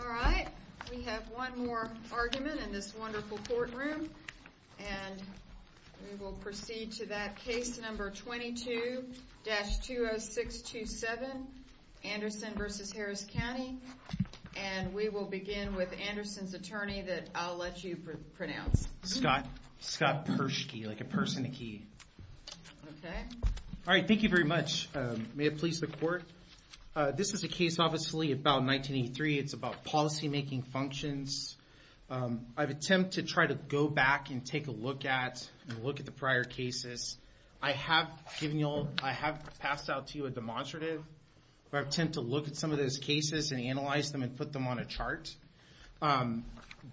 All right, we have one more argument in this wonderful courtroom. And we will proceed to that case number 22-20627, Anderson versus Harris County. And we will begin with Anderson's attorney that I'll let you pronounce. Scott, Scott Pershkey, like a person, a key. Okay. All right, thank you very much. May it please the court. This is a case, obviously, about 1983. It's about policymaking functions. I've attempted to try to go back and take a look at, and look at the prior cases. I have given you all, I have passed out to you a demonstrative. I've attempted to look at some of those cases and analyze them and put them on a chart.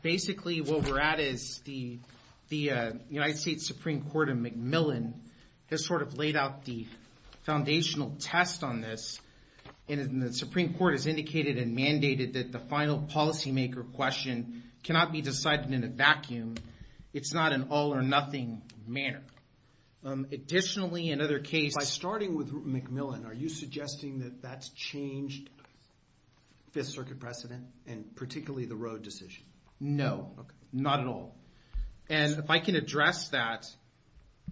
Basically, what we're at is the United States Supreme Court in McMillan has sort of laid out the foundational test on this. And the Supreme Court has indicated and mandated that the final policymaker question cannot be decided in a vacuum. It's not an all or nothing manner. Additionally, in other cases- By starting with McMillan, are you suggesting that that's changed Fifth Circuit precedent, and particularly the road decision? No, not at all. And if I can address that,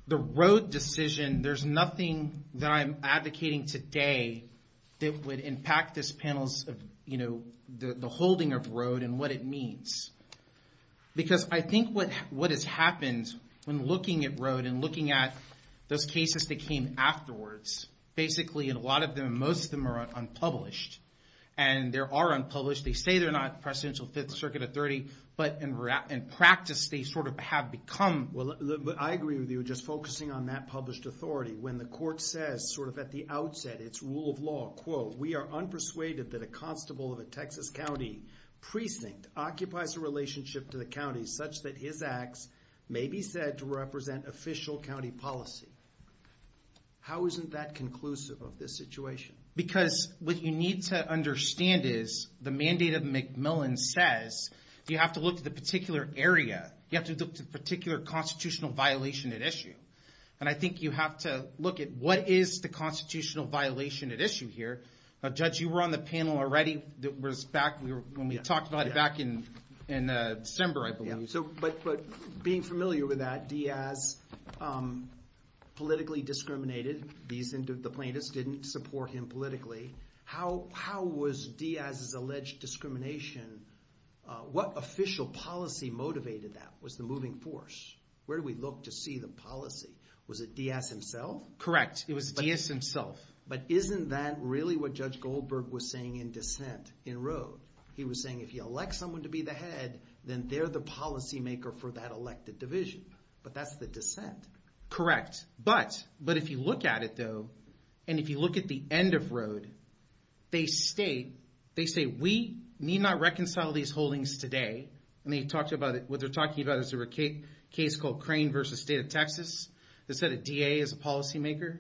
the road decision, there's nothing that I'm advocating today that would impact this panel's, you know, the holding of road and what it means. Because I think what has happened when looking at road and looking at those cases that came afterwards. Basically, a lot of them, most of them are unpublished. And there are unpublished, they say they're not Presidential Fifth Circuit authority, but in practice, they sort of have become. Well, I agree with you, just focusing on that published authority. When the court says, sort of at the outset, it's rule of law, quote, we are unpersuaded that a constable of a Texas county precinct occupies a relationship to the county such that his acts may be said to represent official county policy, how isn't that conclusive of this situation? Because what you need to understand is, the mandate of McMillan says, you have to look to the particular area, you have to look to the particular constitutional violation at issue. And I think you have to look at what is the constitutional violation at issue here. Judge, you were on the panel already, that was back when we talked about it back in December, I believe. But being familiar with that, Diaz politically discriminated. The plaintiffs didn't support him politically. How was Diaz's alleged discrimination, what official policy motivated that, was the moving force? Where do we look to see the policy? Was it Diaz himself? Correct, it was Diaz himself. But isn't that really what Judge Goldberg was saying in dissent in Rode? He was saying if you elect someone to be the head, then they're the policy maker for that elected division. But that's the dissent. Correct, but if you look at it though, and if you look at the end of Rode, they state, they say we need not reconcile these holdings today. And what they're talking about is a case called Crane versus State of Texas. They said a DA is a policy maker.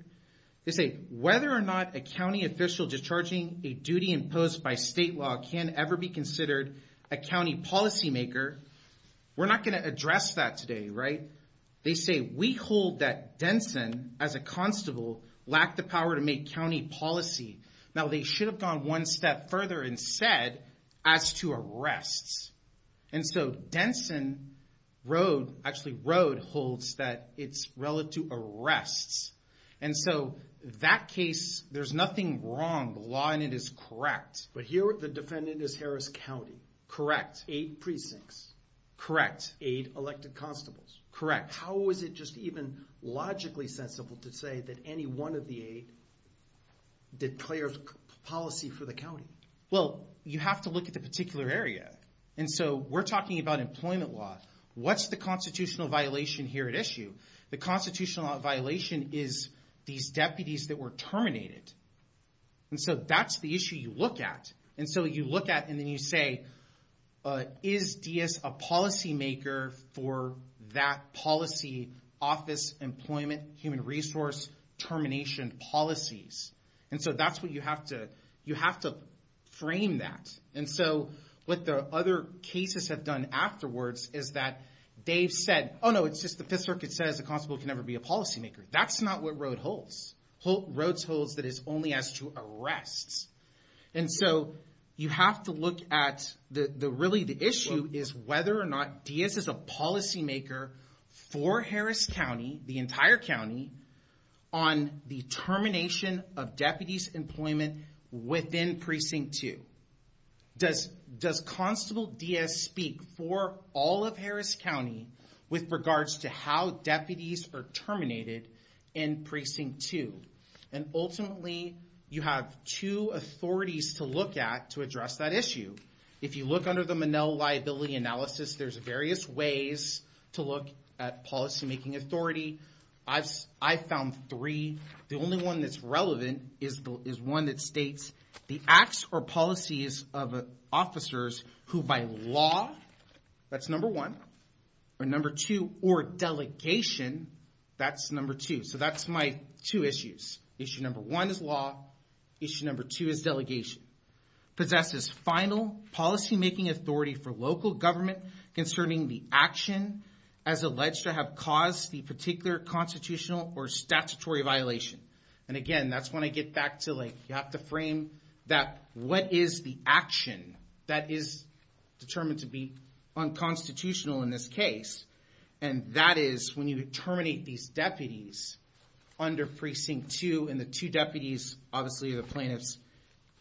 They say whether or not a county official discharging a duty imposed by state law can ever be considered a county policy maker, we're not gonna address that today, right? They say we hold that Denson, as a constable, lacked the power to make county policy. Now they should have gone one step further and said, as to arrests. And so Denson, Rode, actually Rode holds that it's relative arrests. And so that case, there's nothing wrong, the law in it is correct. But here the defendant is Harris County. Correct. Eight precincts. Correct. Eight elected constables. Correct. How is it just even logically sensible to say that any one of the eight declares policy for the county? Well, you have to look at the particular area. And so we're talking about employment law. What's the constitutional violation here at issue? The constitutional violation is these deputies that were terminated. And so that's the issue you look at. And so you look at and then you say, is Diaz a policy maker for that policy, office, employment, human resource, termination policies? And so that's what you have to frame that. And so what the other cases have done afterwards is that they've said, no, it's just the Fifth Circuit says a constable can never be a policy maker. That's not what Rode holds. Rode holds that it's only as to arrests. And so you have to look at, really the issue is whether or not Diaz is a policy maker for Harris County, the entire county, on the termination of deputies' employment within Precinct 2. Does Constable Diaz speak for all of Harris County with regards to how deputies are terminated in Precinct 2? And ultimately, you have two authorities to look at to address that issue. If you look under the Monell Liability Analysis, there's various ways to look at policy making authority. I've found three. The only one that's relevant is one that states the acts or policies of officers who by law, that's number one. Or number two, or delegation, that's number two. So that's my two issues. Issue number one is law. Issue number two is delegation. Possesses final policy making authority for local government concerning the action as alleged to have caused the particular constitutional or statutory violation. And again, that's when I get back to you have to frame that what is the action that is determined to be unconstitutional in this case. And that is when you terminate these deputies under Precinct 2 and the two deputies, obviously the plaintiffs,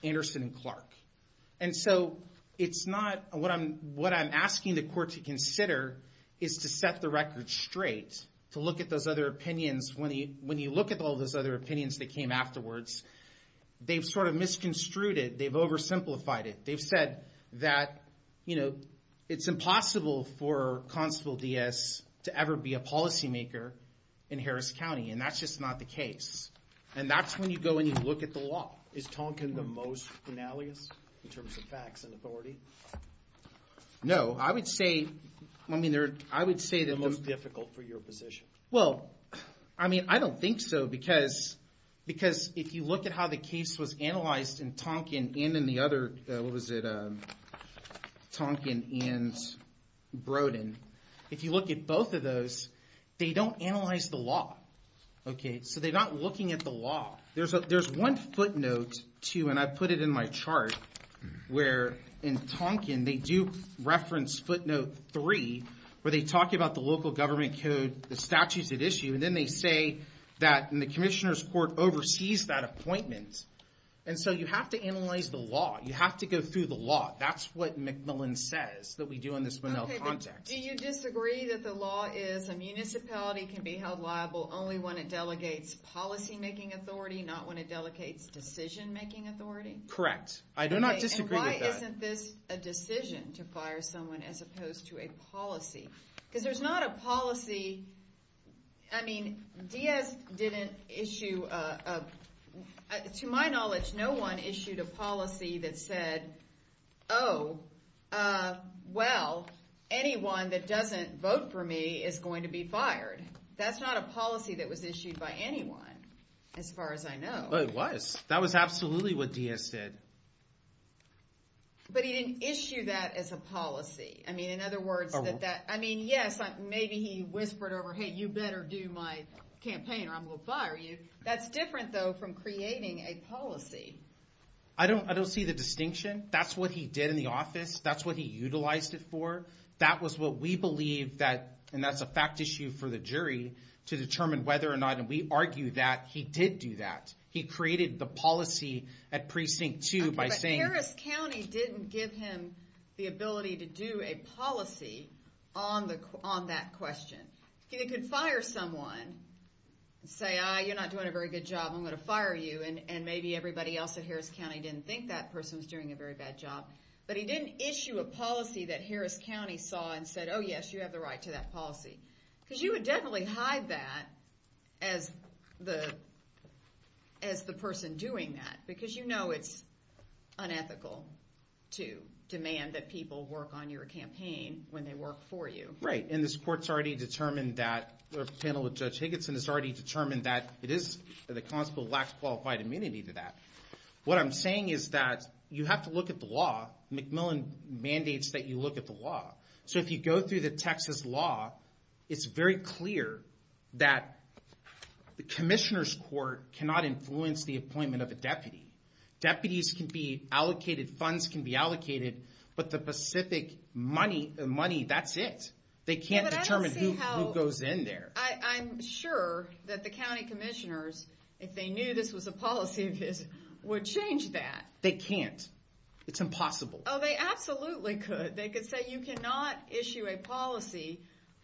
Anderson and Clark. And so it's not, what I'm asking the court to consider is to set the record straight, to look at those other opinions. When you look at all those other opinions that came afterwards, they've sort of misconstrued it, they've oversimplified it. They've said that it's impossible for Constable Diaz to ever be a policy maker in Harris County. And that's just not the case. And that's when you go and you look at the law. Is Tonkin the most penalious in terms of facts and authority? No, I would say, I mean, I would say that- The most difficult for your position. Well, I mean, I don't think so because if you look at how the case was analyzed in Tonkin and in the other, what was it, Tonkin and Brodin. If you look at both of those, they don't analyze the law, okay? So they're not looking at the law. There's one footnote to, and I put it in my chart, where in Tonkin they do reference footnote three, where they talk about the local government code, the statutes at issue. And then they say that in the commissioner's court oversees that appointment. And so you have to analyze the law, you have to go through the law. That's what McMillan says that we do in this context. Do you disagree that the law is a municipality can be held liable only when it delegates policy-making authority, not when it delegates decision-making authority? Correct. I do not disagree with that. Okay, and why isn't this a decision to fire someone as opposed to a policy? Because there's not a policy, I mean, Diaz didn't issue, to my knowledge, no one issued a policy that said, oh, well, anyone that doesn't vote for me is going to be fired. That's not a policy that was issued by anyone, as far as I know. Oh, it was. That was absolutely what Diaz said. But he didn't issue that as a policy. I mean, in other words, I mean, yes, maybe he whispered over, hey, you better do my campaign or I'm going to fire you. That's different, though, from creating a policy. I don't see the distinction. That's what he did in the office. That's what he utilized it for. That was what we believe that, and that's a fact issue for the jury, to determine whether or not, and we argue that he did do that. He created the policy at precinct two by saying- Okay, but Harris County didn't give him the ability to do a policy on that question. He could fire someone and say, ah, you're not doing a very good job, I'm going to fire you, and maybe everybody else at Harris County didn't think that person was doing a very bad job. But he didn't issue a policy that Harris County saw and said, oh, yes, you have the right to that policy. Because you would definitely hide that as the person doing that, because you know it's unethical to demand that people work on your campaign when they work for you. Right, and this court's already determined that, the panel with Judge Higginson has already determined that it is, the constable lacks qualified immunity to that. What I'm saying is that you have to look at the law. McMillan mandates that you look at the law. So if you go through the Texas law, it's very clear that the commissioner's court cannot influence the appointment of a deputy. Deputies can be allocated, funds can be allocated, but the specific money, that's it. They can't determine who goes in there. I'm sure that the county commissioners, if they knew this was a policy, would change that. They can't. It's impossible. Oh, they absolutely could. They could say, you cannot issue a policy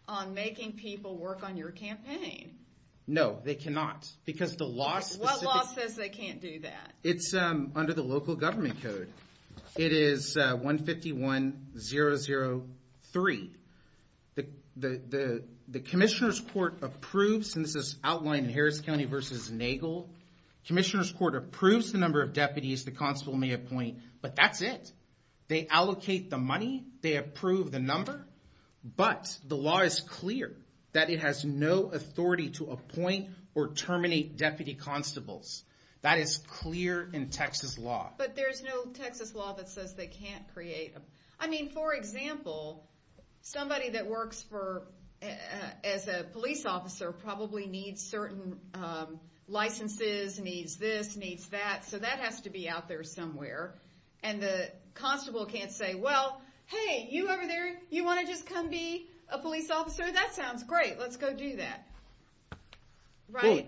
on making people work on your campaign. No, they cannot. Because the law's specific. What law says they can't do that? It's under the local government code. It is 151003. The commissioner's court approves, and this is outlined in Harris County versus Nagel, commissioner's court approves the number of deputies the constable may appoint, but that's it. They allocate the money, they approve the number, but the law is clear that it has no authority to appoint or terminate deputy constables. That is clear in Texas law. But there's no Texas law that says they can't create them. I mean, for example, somebody that works as a police officer probably needs certain licenses, needs this, needs that, so that has to be out there somewhere. And the constable can't say, well, hey, you over there, you want to just come be a police officer? That sounds great. Let's go do that, right?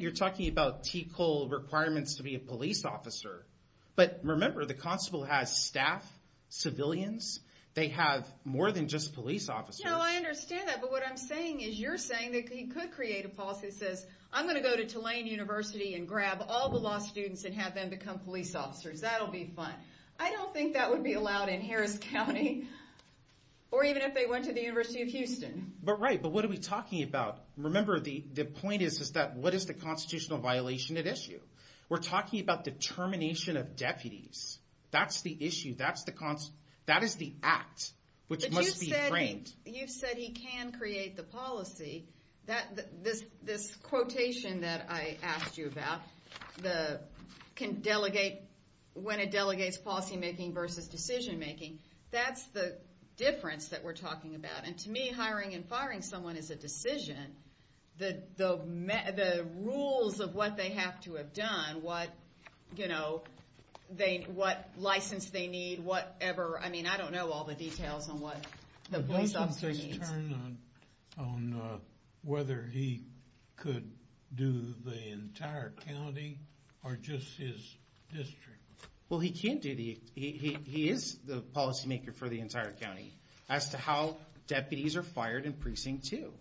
You're talking about TCOL requirements to be a police officer. But remember, the constable has staff, civilians. They have more than just police officers. No, I understand that, but what I'm saying is you're saying that he could create a policy that says, I'm going to go to Tulane University and grab all the law students and have them become police officers. That'll be fun. I don't think that would be allowed in Harris County, or even if they went to the University of Houston. But right, but what are we talking about? Remember, the point is that what is the constitutional violation at issue? We're talking about determination of deputies. That's the issue. That's the act, which must be framed. You've said he can create the policy. This quotation that I asked you about, when it delegates policy making versus decision making, that's the difference that we're talking about. And to me, hiring and firing someone is a decision, the rules of what they have to have done, what license they need, whatever. I mean, I don't know all the details on what the police officer needs. Can you just turn on whether he could do the entire county or just his district? Well, he can do the, he is the policy maker for the entire county as to how deputies are fired in Precinct 2.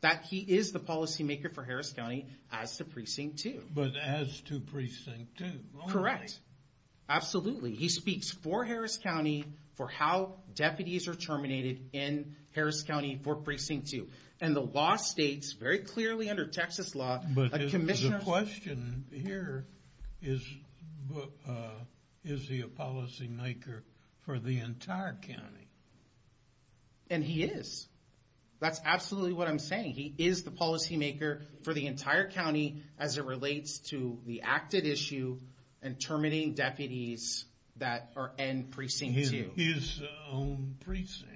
That he is the policy maker for Harris County as to Precinct 2. But as to Precinct 2 only. Correct. Absolutely. He speaks for Harris County for how deputies are terminated in Harris County for Precinct 2. And the law states, very clearly under Texas law, a commissioner's. But the question here is, is he a policy maker for the entire county? And he is. That's absolutely what I'm saying. He is the policy maker for the entire county as it relates to the active issue and terminating deputies that are in Precinct 2. His own precinct.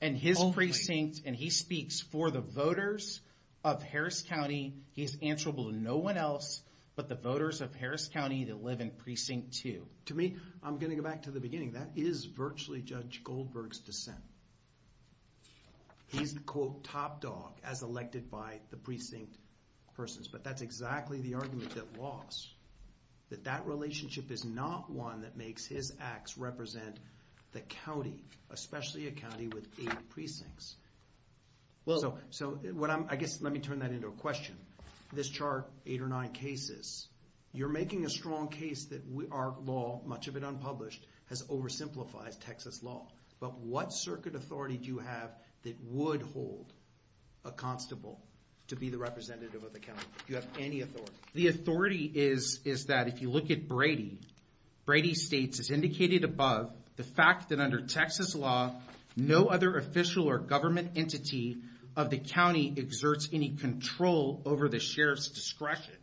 And his precinct. And he speaks for the voters of Harris County. He's answerable to no one else but the voters of Harris County that live in Precinct 2. To me, I'm going to go back to the beginning. That is virtually Judge Goldberg's dissent. He's quote, top dog, as elected by the precinct persons. But that's exactly the argument that lost. That that relationship is not one that makes his acts represent the county, especially a county with eight precincts. So I guess let me turn that into a question. This chart, eight or nine cases, you're making a strong case that our law, much of it unpublished, has oversimplified Texas law. But what circuit authority do you have that would hold a constable to be the representative of the county? Do you have any authority? The authority is that if you look at Brady, Brady states, as indicated above, the fact that under Texas law, no other official or government entity of the county exerts any control over the sheriff's discretion.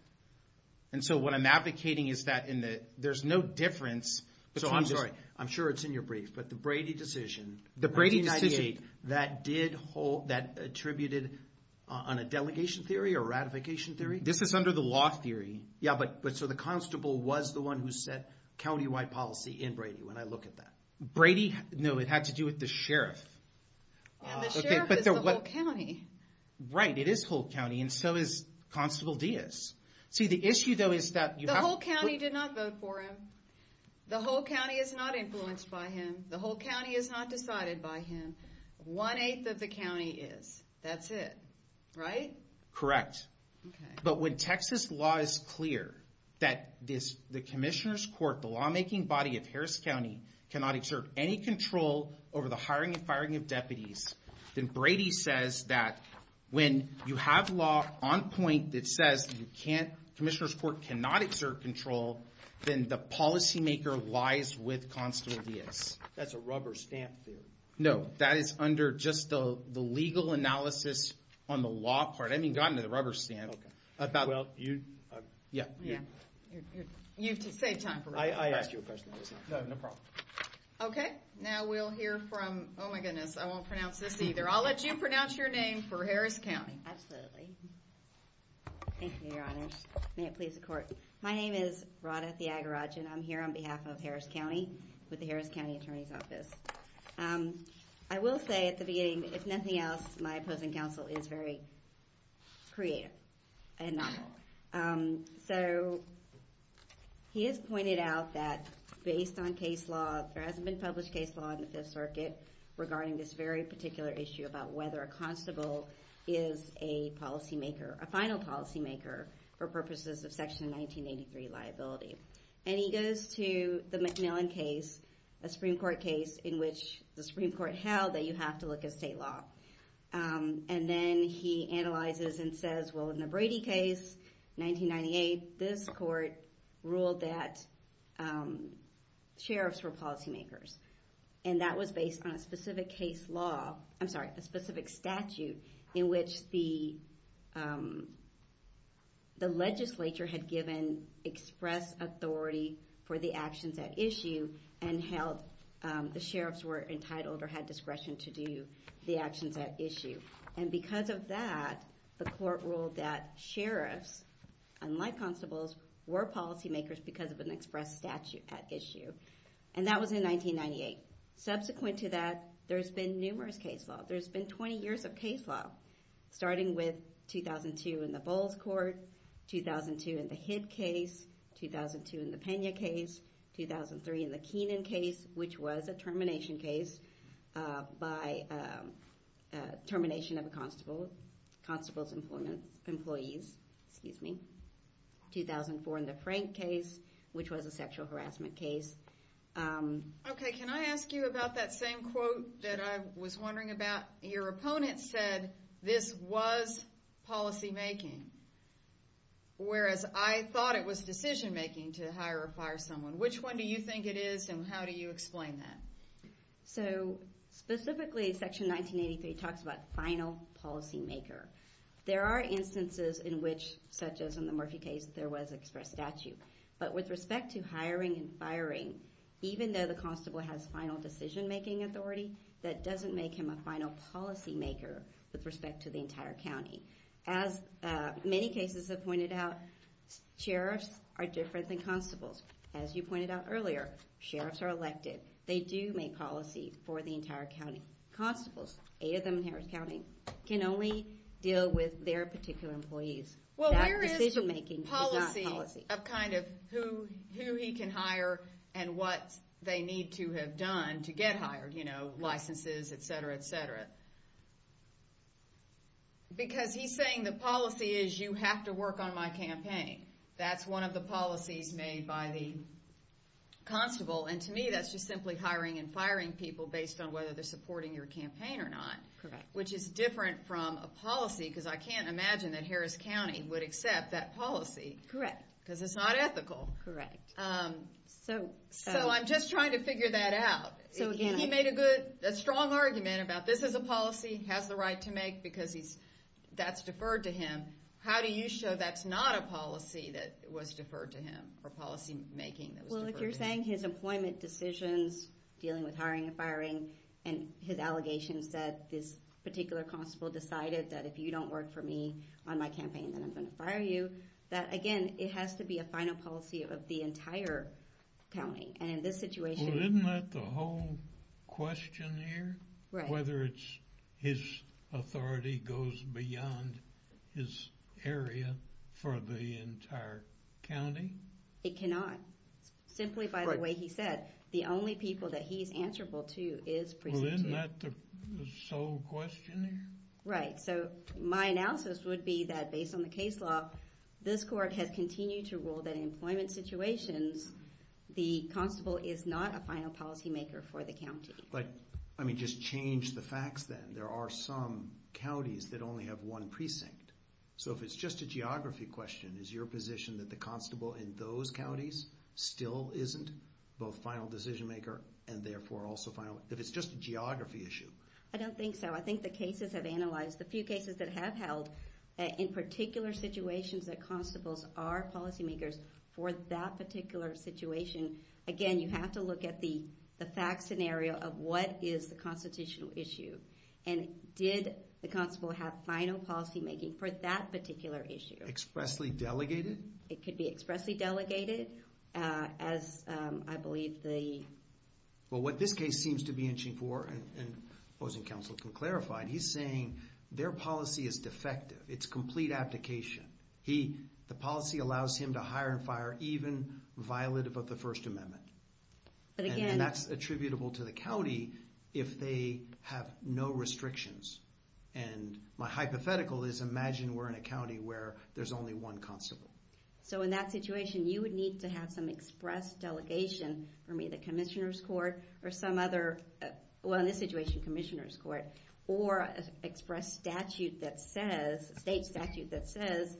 And so what I'm advocating is that there's no difference between this. So I'm sorry. I'm sure it's in your brief. But the Brady decision. The Brady decision. That did hold, that attributed on a delegation theory or ratification theory? This is under the law theory. Yeah, but so the constable was the one who set countywide policy in Brady, when I look at that. Brady? No, it had to do with the sheriff. And the sheriff is the whole county. Right, it is whole county. And so is Constable Diaz. See, the issue, though, is that you have to. The whole county did not vote for him. The whole county is not influenced by him. The whole county is not decided by him. 1 8th of the county is. That's it, right? Correct. But when Texas law is clear that the commissioner's court, the lawmaking body of Harris County, cannot exert any control over the hiring and firing of deputies, then Brady says that when you have law on point that says commissioner's court cannot exert control, then the policymaker lies with Constable Diaz. That's a rubber stamp theory. No, that is under just the legal analysis on the law part. I mean, gotten to the rubber stamp. Well, you. Yeah. You've saved time for me. I asked you a question. No, no problem. OK, now we'll hear from, oh my goodness, I won't pronounce this either. I'll let you pronounce your name for Harris County. Absolutely. Thank you, your honors. May it please the court. My name is Rhoda Thiagarajan. I'm here on behalf of Harris County, with the Harris County Attorney's Office. I will say at the beginning, if nothing else, my opposing counsel is very creative and novel. So he has pointed out that based on case law, there hasn't been published case law in the Fifth Circuit regarding this very particular issue about whether a constable is a policymaker, a final policymaker, for purposes of Section 1983 liability. And he goes to the MacMillan case, a Supreme Court case in which the Supreme Court held that you have to look at state law. And then he analyzes and says, well, in the Brady case, 1998, this court ruled that sheriffs were policymakers. And that was based on a specific case law, I'm sorry, a specific statute in which the legislature had given express authority for the actions at issue, and held the sheriffs were entitled or had discretion to do the actions at issue. And because of that, the court ruled that sheriffs, unlike constables, were policymakers because of an express statute at issue. And that was in 1998. Subsequent to that, there's been numerous case law. There's been 20 years of case law, starting with 2002 in the Bowles court, 2002 in the Hib case, 2002 in the Pena case, 2003 in the Keenan case, which was a termination case by termination of a constable's employees, excuse me. 2004 in the Frank case, which was a sexual harassment case. OK, can I ask you about that same quote that I was wondering about? Your opponent said this was policymaking, whereas I thought it was decision-making to hire or fire someone. Which one do you think it is, and how do you explain that? So specifically, section 1983 talks about final policymaker. There are instances in which, such as in the Murphy case, there was express statute. But with respect to hiring and firing, even though the constable has final decision-making authority, that doesn't make him a final policymaker with respect to the entire county. As many cases have pointed out, sheriffs are different than constables. As you pointed out earlier, sheriffs are elected. They do make policy for the entire county. Constables, eight of them in Harris County, can only deal with their particular employees. Well, where is the policy of kind of who he can hire and what they need to have done to get hired, licenses, et cetera, et cetera? Because he's saying the policy is you have to work on my campaign. That's one of the policies made by the constable. And to me, that's just simply hiring and firing people based on whether they're supporting your campaign or not, which is different from a policy, because I can't imagine that Harris County would accept that policy, because it's not ethical. Correct. So I'm just trying to figure that out. He made a strong argument about this is a policy, has the right to make, because that's deferred to him. How do you show that's not a policy that was deferred to him, or policy making that was deferred to him? Well, if you're saying his employment decisions, dealing with hiring and firing, and his allegations that this particular constable decided that if you don't work for me on my campaign, then I'm going to fire you, that again, it has to be a final policy of the entire county. And in this situation, Well, isn't that the whole question here? Whether it's his authority goes beyond his area for the entire county? It cannot. Simply by the way he said, the only people that he's answerable to is precinct two. Well, isn't that the sole question here? Right, so my analysis would be that based on the case law, this court has continued to rule that in employment situations, the constable is not a final policy maker for the county. I mean, just change the facts then. There are some counties that only have one precinct. So if it's just a geography question, is your position that the constable in those counties still isn't both final decision maker, and therefore also final, if it's just a geography issue? I don't think so. I think the cases have analyzed, the few cases that have held, in particular situations that constables are policy makers for that particular situation. Again, you have to look at the fact scenario of what is the constitutional issue. And did the constable have final policy making for that particular issue? Expressly delegated? It could be expressly delegated, as I believe the. Well, what this case seems to be inching for, and opposing counsel can clarify, he's saying their policy is defective. It's complete abdication. The policy allows him to hire and fire even violative of the First Amendment. And that's attributable to the county if they have no restrictions. And my hypothetical is, imagine we're in a county where there's only one constable. So in that situation, you would need to have some express delegation from either commissioners court or some other, well, in this situation, commissioners court, or express statute that says, state statute that says,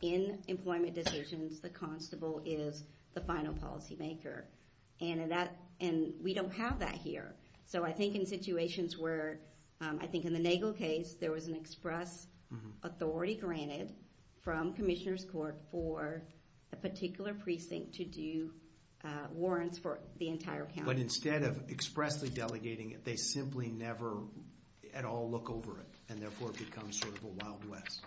in employment decisions, the constable is the final policy maker. And we don't have that here. So I think in situations where, I think in the Nagel case, there was an express authority granted from commissioners court for a particular precinct to do warrants for the entire county. But instead of expressly delegating it, they simply never at all look over it. And therefore, it becomes sort of a wild west.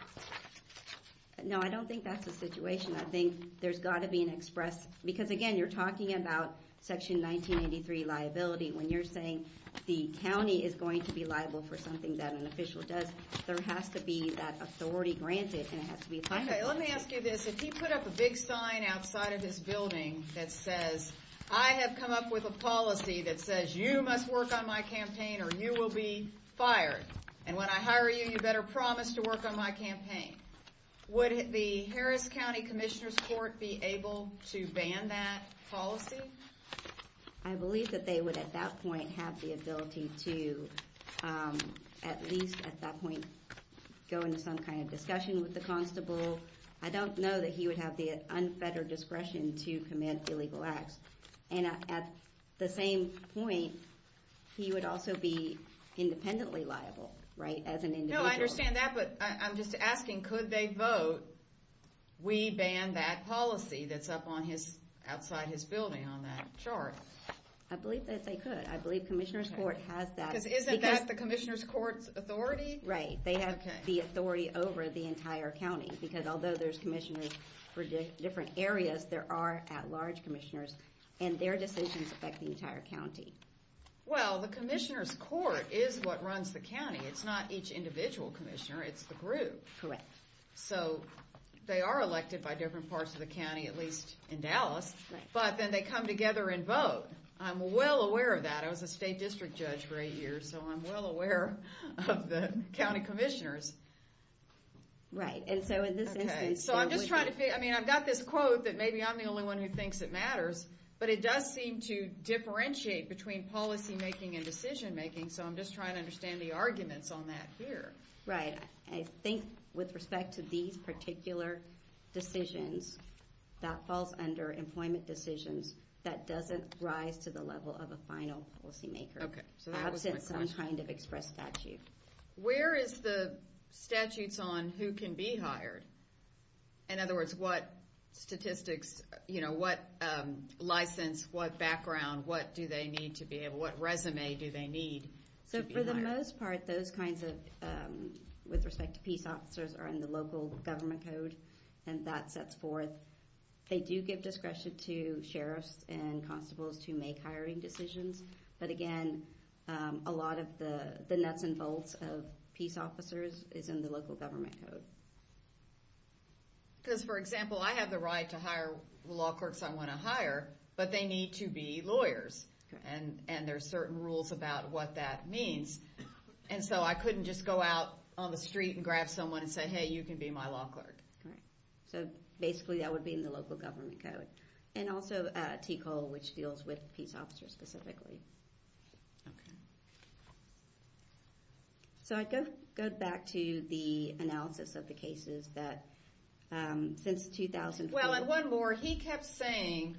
No, I don't think that's the situation. I think there's got to be an express. Because again, you're talking about Section 1983 liability. When you're saying the county is going to be liable for something that an official does, there has to be that authority granted. And it has to be applied. Let me ask you this. If he put up a big sign outside of this building that says, I have come up with a policy that says, you must work on my campaign or you will be fired. And when I hire you, you better promise to work on my campaign. Would the Harris County Commissioners Court be able to ban that policy? I believe that they would at that point have the ability to, at least at that point, go into some kind of discussion with the constable. I don't know that he would have the unfettered discretion to commit illegal acts. And at the same point, he would also be independently liable as an individual. No, I understand that. But I'm just asking, could they vote, we ban that policy that's up outside his building on that chart? I believe that they could. I believe Commissioners Court has that. Because isn't that the Commissioners Court's authority? Right. They have the authority over the entire county. Because although there's commissioners for different areas, there are at-large commissioners. And their decisions affect the entire county. Well, the Commissioners Court is what runs the county. It's not each individual commissioner. It's the group. Correct. So they are elected by different parts of the county, at least in Dallas. But then they come together and vote. I'm well aware of that. I was a state district judge for eight years. Right. And so in this instance, they would be able to vote. I mean, I've got this quote that maybe I'm the only one who thinks it matters. But it does seem to differentiate between policymaking and decision making. So I'm just trying to understand the arguments on that here. Right. I think with respect to these particular decisions, that falls under employment decisions. That doesn't rise to the level of a final policymaker. OK. So that was my question. Absent some kind of express statute. Where is the statutes on who can be hired? In other words, what statistics, what license, what background, what do they need to be able, what resume do they need? So for the most part, those kinds of, with respect to peace officers, are in the local government code. And that sets forth. They do give discretion to sheriffs and constables to make hiring decisions. But again, a lot of the nuts and bolts of peace officers is in the local government code. Because, for example, I have the right to hire law clerks I want to hire. But they need to be lawyers. And there are certain rules about what that means. And so I couldn't just go out on the street and grab someone and say, hey, you can be my law clerk. So basically, that would be in the local government code. And also, TCOL, which deals with peace officers specifically. OK. So I'd go back to the analysis of the cases that since 2004. Well, and one more. He kept saying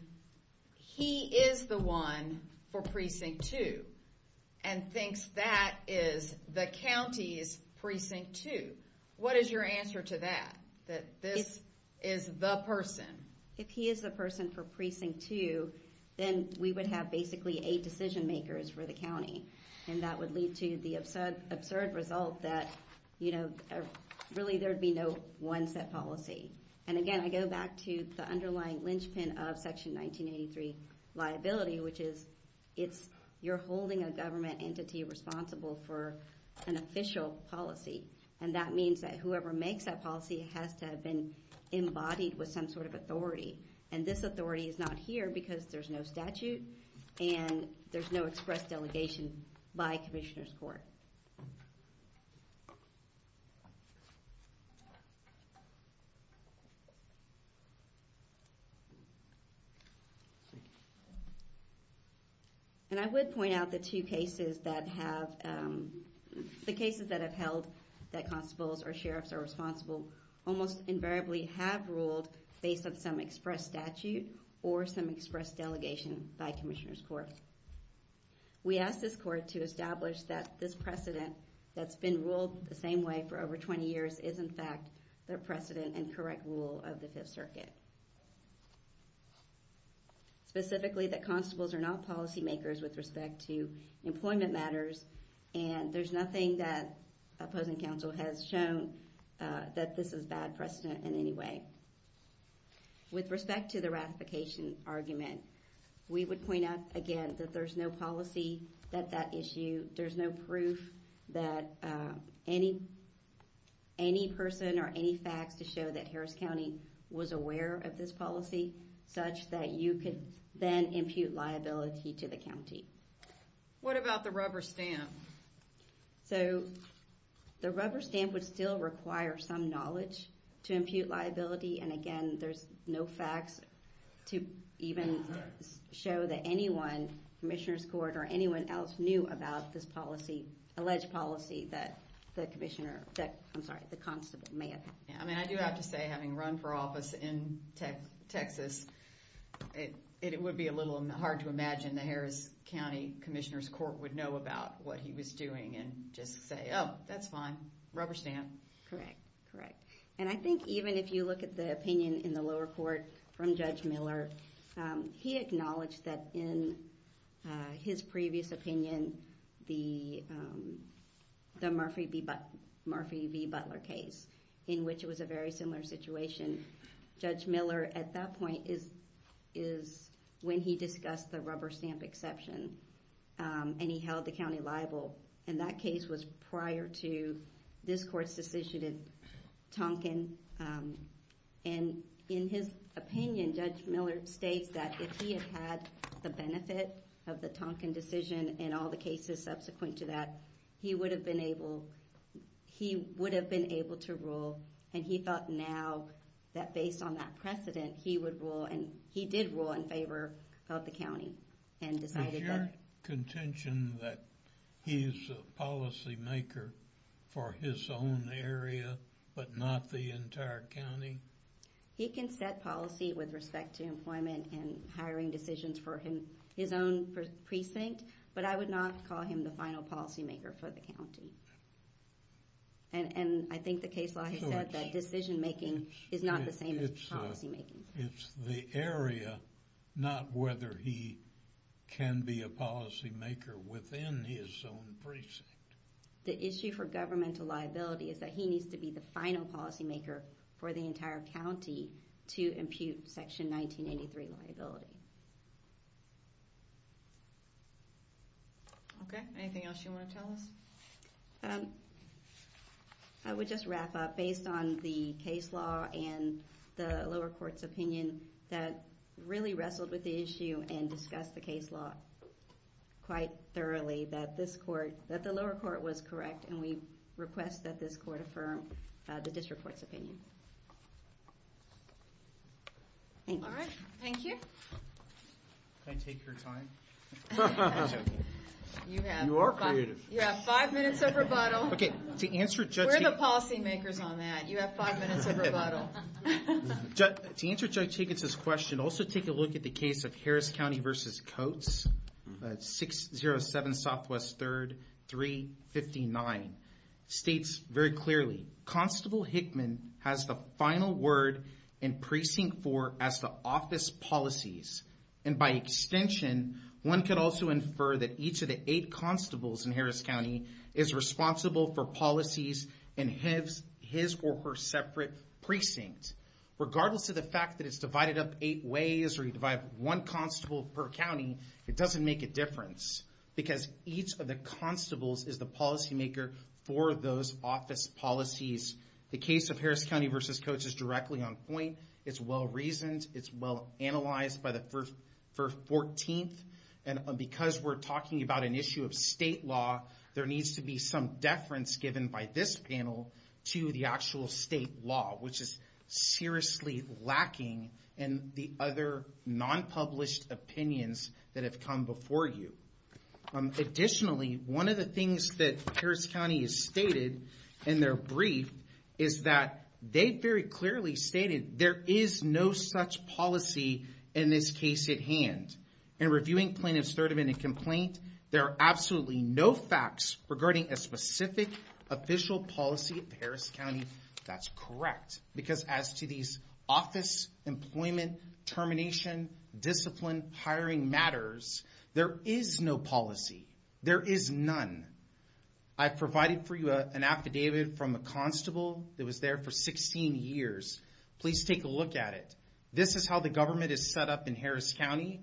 he is the one for precinct two. And thinks that is the county's precinct two. What is your answer to that? That this is the person? If he is the person for precinct two, then we would have basically eight decision makers for the county. And that would lead to the absurd result that really there would be no one set policy. And again, I go back to the underlying linchpin of section 1983 liability, which is you're holding a government entity responsible for an official policy. And that means that whoever makes that policy has to have been embodied with some sort of authority. And this authority is not here, because there's no statute. And there's no express delegation by commissioner's court. And I would point out the two cases that have held that constables or sheriffs are responsible almost invariably have ruled based on some express statute or some express delegation by commissioner's court. We ask this court to establish that this precedent that's been ruled the same way for over 20 years is, in fact, the precedent and correct rule of the Fifth Circuit. Specifically, that constables are not policymakers with respect to employment matters. And there's nothing that opposing counsel has shown that this is bad precedent in any way. With respect to the ratification argument, we would point out, again, that there's no policy at that issue. There's no proof that any person or any facts to show that Harris County was aware of this policy, such that you could then impute liability to the county. What about the rubber stamp? So the rubber stamp would still require some knowledge to impute liability. And again, there's no facts to even show that anyone, commissioner's court, or anyone else knew about this alleged policy that the constable may have had. I do have to say, having run for office in Texas, it would be a little hard to imagine the Harris County Commissioner's Court would know about what he was doing and just say, oh, that's fine. Rubber stamp. Correct. Correct. And I think even if you look at the opinion in the lower court from Judge Miller, he acknowledged that in his previous opinion, the Murphy v. Butler case, in which it was a very similar situation, Judge Miller, at that point, is when he discussed the rubber stamp exception. And he held the county liable. And that case was prior to this court's decision in Tonkin. And in his opinion, Judge Miller states that if he had had the benefit of the Tonkin decision and all the cases subsequent to that, he would have been able to rule. And he thought now that based on that precedent, he would rule. And he did rule in favor of the county and decided that. Is there contention that he's a policymaker for his own area but not the entire county? He can set policy with respect to employment and hiring decisions for his own precinct. But I would not call him the final policymaker for the county. And I think the case law has said that decision making is not the same as policymaking. It's the area, not whether he can be a policymaker within his own precinct. The issue for governmental liability is that he needs to be the final policymaker for the entire county to impute Section 1983 liability. OK. Anything else you want to tell us? I would just wrap up. Based on the case law and the lower court's opinion, that really wrestled with the issue and discussed the case law quite thoroughly, that this court, that the lower court was correct. And we request that this court affirm the district court's opinion. Thank you. All right. Thank you. Can I take your time? You are creative. You have five minutes of rebuttal. OK. To answer Judge Heap. We're the policymakers on that. You have five minutes of rebuttal. To answer Judge Higgins' question, also take a look at the case of Harris County versus Coates, 607 Southwest 3rd, 359. States very clearly, Constable Hickman has the final word in Precinct 4 as the office policies. And by extension, one could also infer that each of the eight constables in Harris County is responsible for policies in his or her separate precinct. Regardless of the fact that it's divided up eight ways, or you divide up one constable per county, it doesn't make a difference. Because each of the constables is the policymaker for those office policies. The case of Harris County versus Coates is directly on point. It's well-reasoned. It's well-analyzed by the first 14th. And because we're talking about an issue of state law, there needs to be some deference given by this panel to the actual state law, which is seriously lacking in the other non-published opinions that have come before you. Additionally, one of the things that Harris County has stated in their brief is that they very clearly stated there is no such policy in this case at hand. In reviewing plaintiff's third amendment complaint, there are absolutely no facts regarding a specific official policy of Harris County. That's correct, because as to these office, employment, termination, discipline, hiring matters, there is no policy. There is none. I provided for you an affidavit from a constable that was there for 16 years. Please take a look at it. This is how the government is set up in Harris County.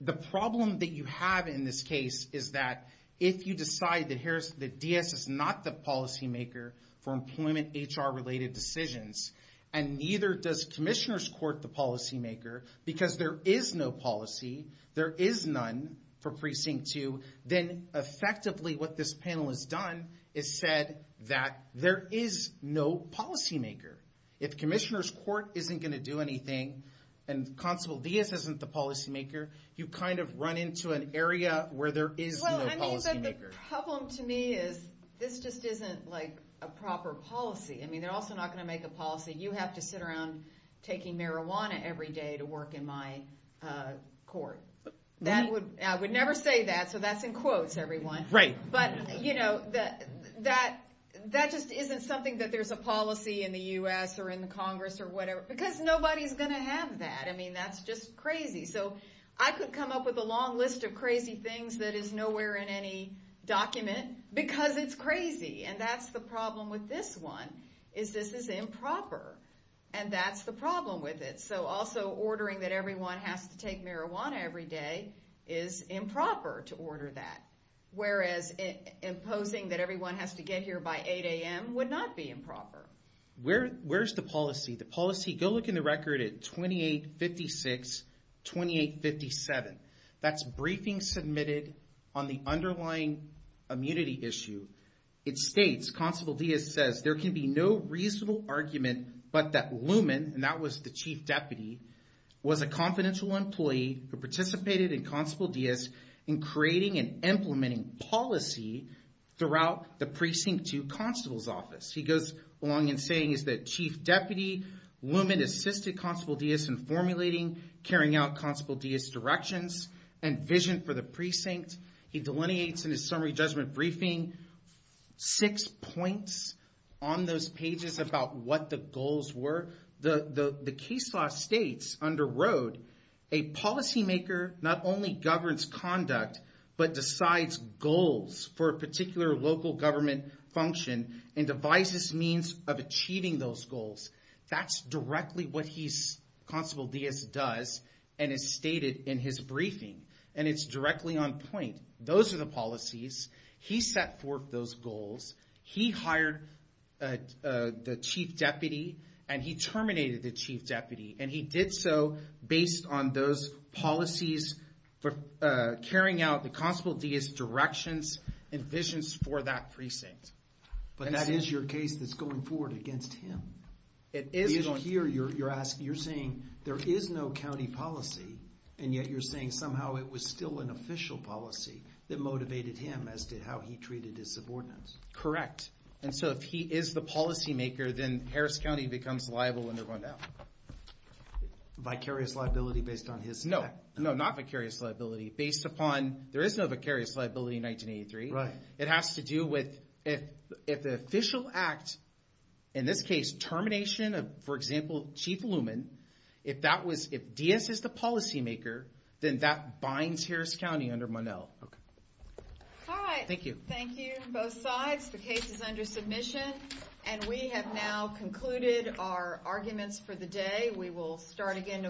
The problem that you have in this case is that if you decide that DS is not the policymaker for employment HR-related decisions, and neither does commissioners court the policymaker, because there is no policy, there is none for precinct two, then effectively what this panel has done is said that there is no policymaker. If commissioners court isn't going to do anything, and constable DS isn't the policymaker, you kind of run into an area where there is no policymaker. The problem to me is this just isn't a proper policy. I mean, they're also not going to make a policy. You have to sit around taking marijuana every day to work in my court. I would never say that, so that's in quotes, everyone. But that just isn't something that there's a policy in the US, or in the Congress, or whatever. Because nobody's going to have that. I mean, that's just crazy. So I could come up with a long list of crazy things that is nowhere in any document, because it's crazy. And that's the problem with this one, is this is improper. And that's the problem with it. So also ordering that everyone has to take marijuana every day is improper to order that. Whereas imposing that everyone has to get here by 8 AM would not be improper. Where's the policy? Go look in the record at 2856, 2857. That's briefing submitted on the underlying immunity issue. It states, Constable Diaz says, there can be no reasonable argument but that Luman, and that was the chief deputy, was a confidential employee who participated in Constable Diaz to Constable's office. He goes along in saying, is that chief deputy, Luman assisted Constable Diaz in formulating, carrying out Constable Diaz directions, and vision for the precinct. He delineates in his summary judgment briefing six points on those pages about what the goals were. The case law states, under Rode, a policymaker not only governs conduct, but decides goals for a particular local government function, and devises means of achieving those goals. That's directly what Constable Diaz does and is stated in his briefing. And it's directly on point. Those are the policies. He set forth those goals. He hired the chief deputy. And he terminated the chief deputy. And he did so based on those policies for carrying out the Constable Diaz directions and visions for that precinct. But that is your case that's going forward against him. It is. Here, you're saying there is no county policy, and yet you're saying somehow it was still an official policy that motivated him as to how he treated his subordinates. Correct. And so if he is the policymaker, then Harris County becomes liable under Rodeo. Vicarious liability based on his act? No. No, not vicarious liability. Based upon, there is no vicarious liability in 1983. It has to do with if the official act, in this case, termination of, for example, Chief Luman, if Diaz is the policymaker, then that binds Harris County under Monell. All right. Thank you. Thank you, both sides. The case is under submission. And we have now concluded our arguments for the day. We will start again tomorrow.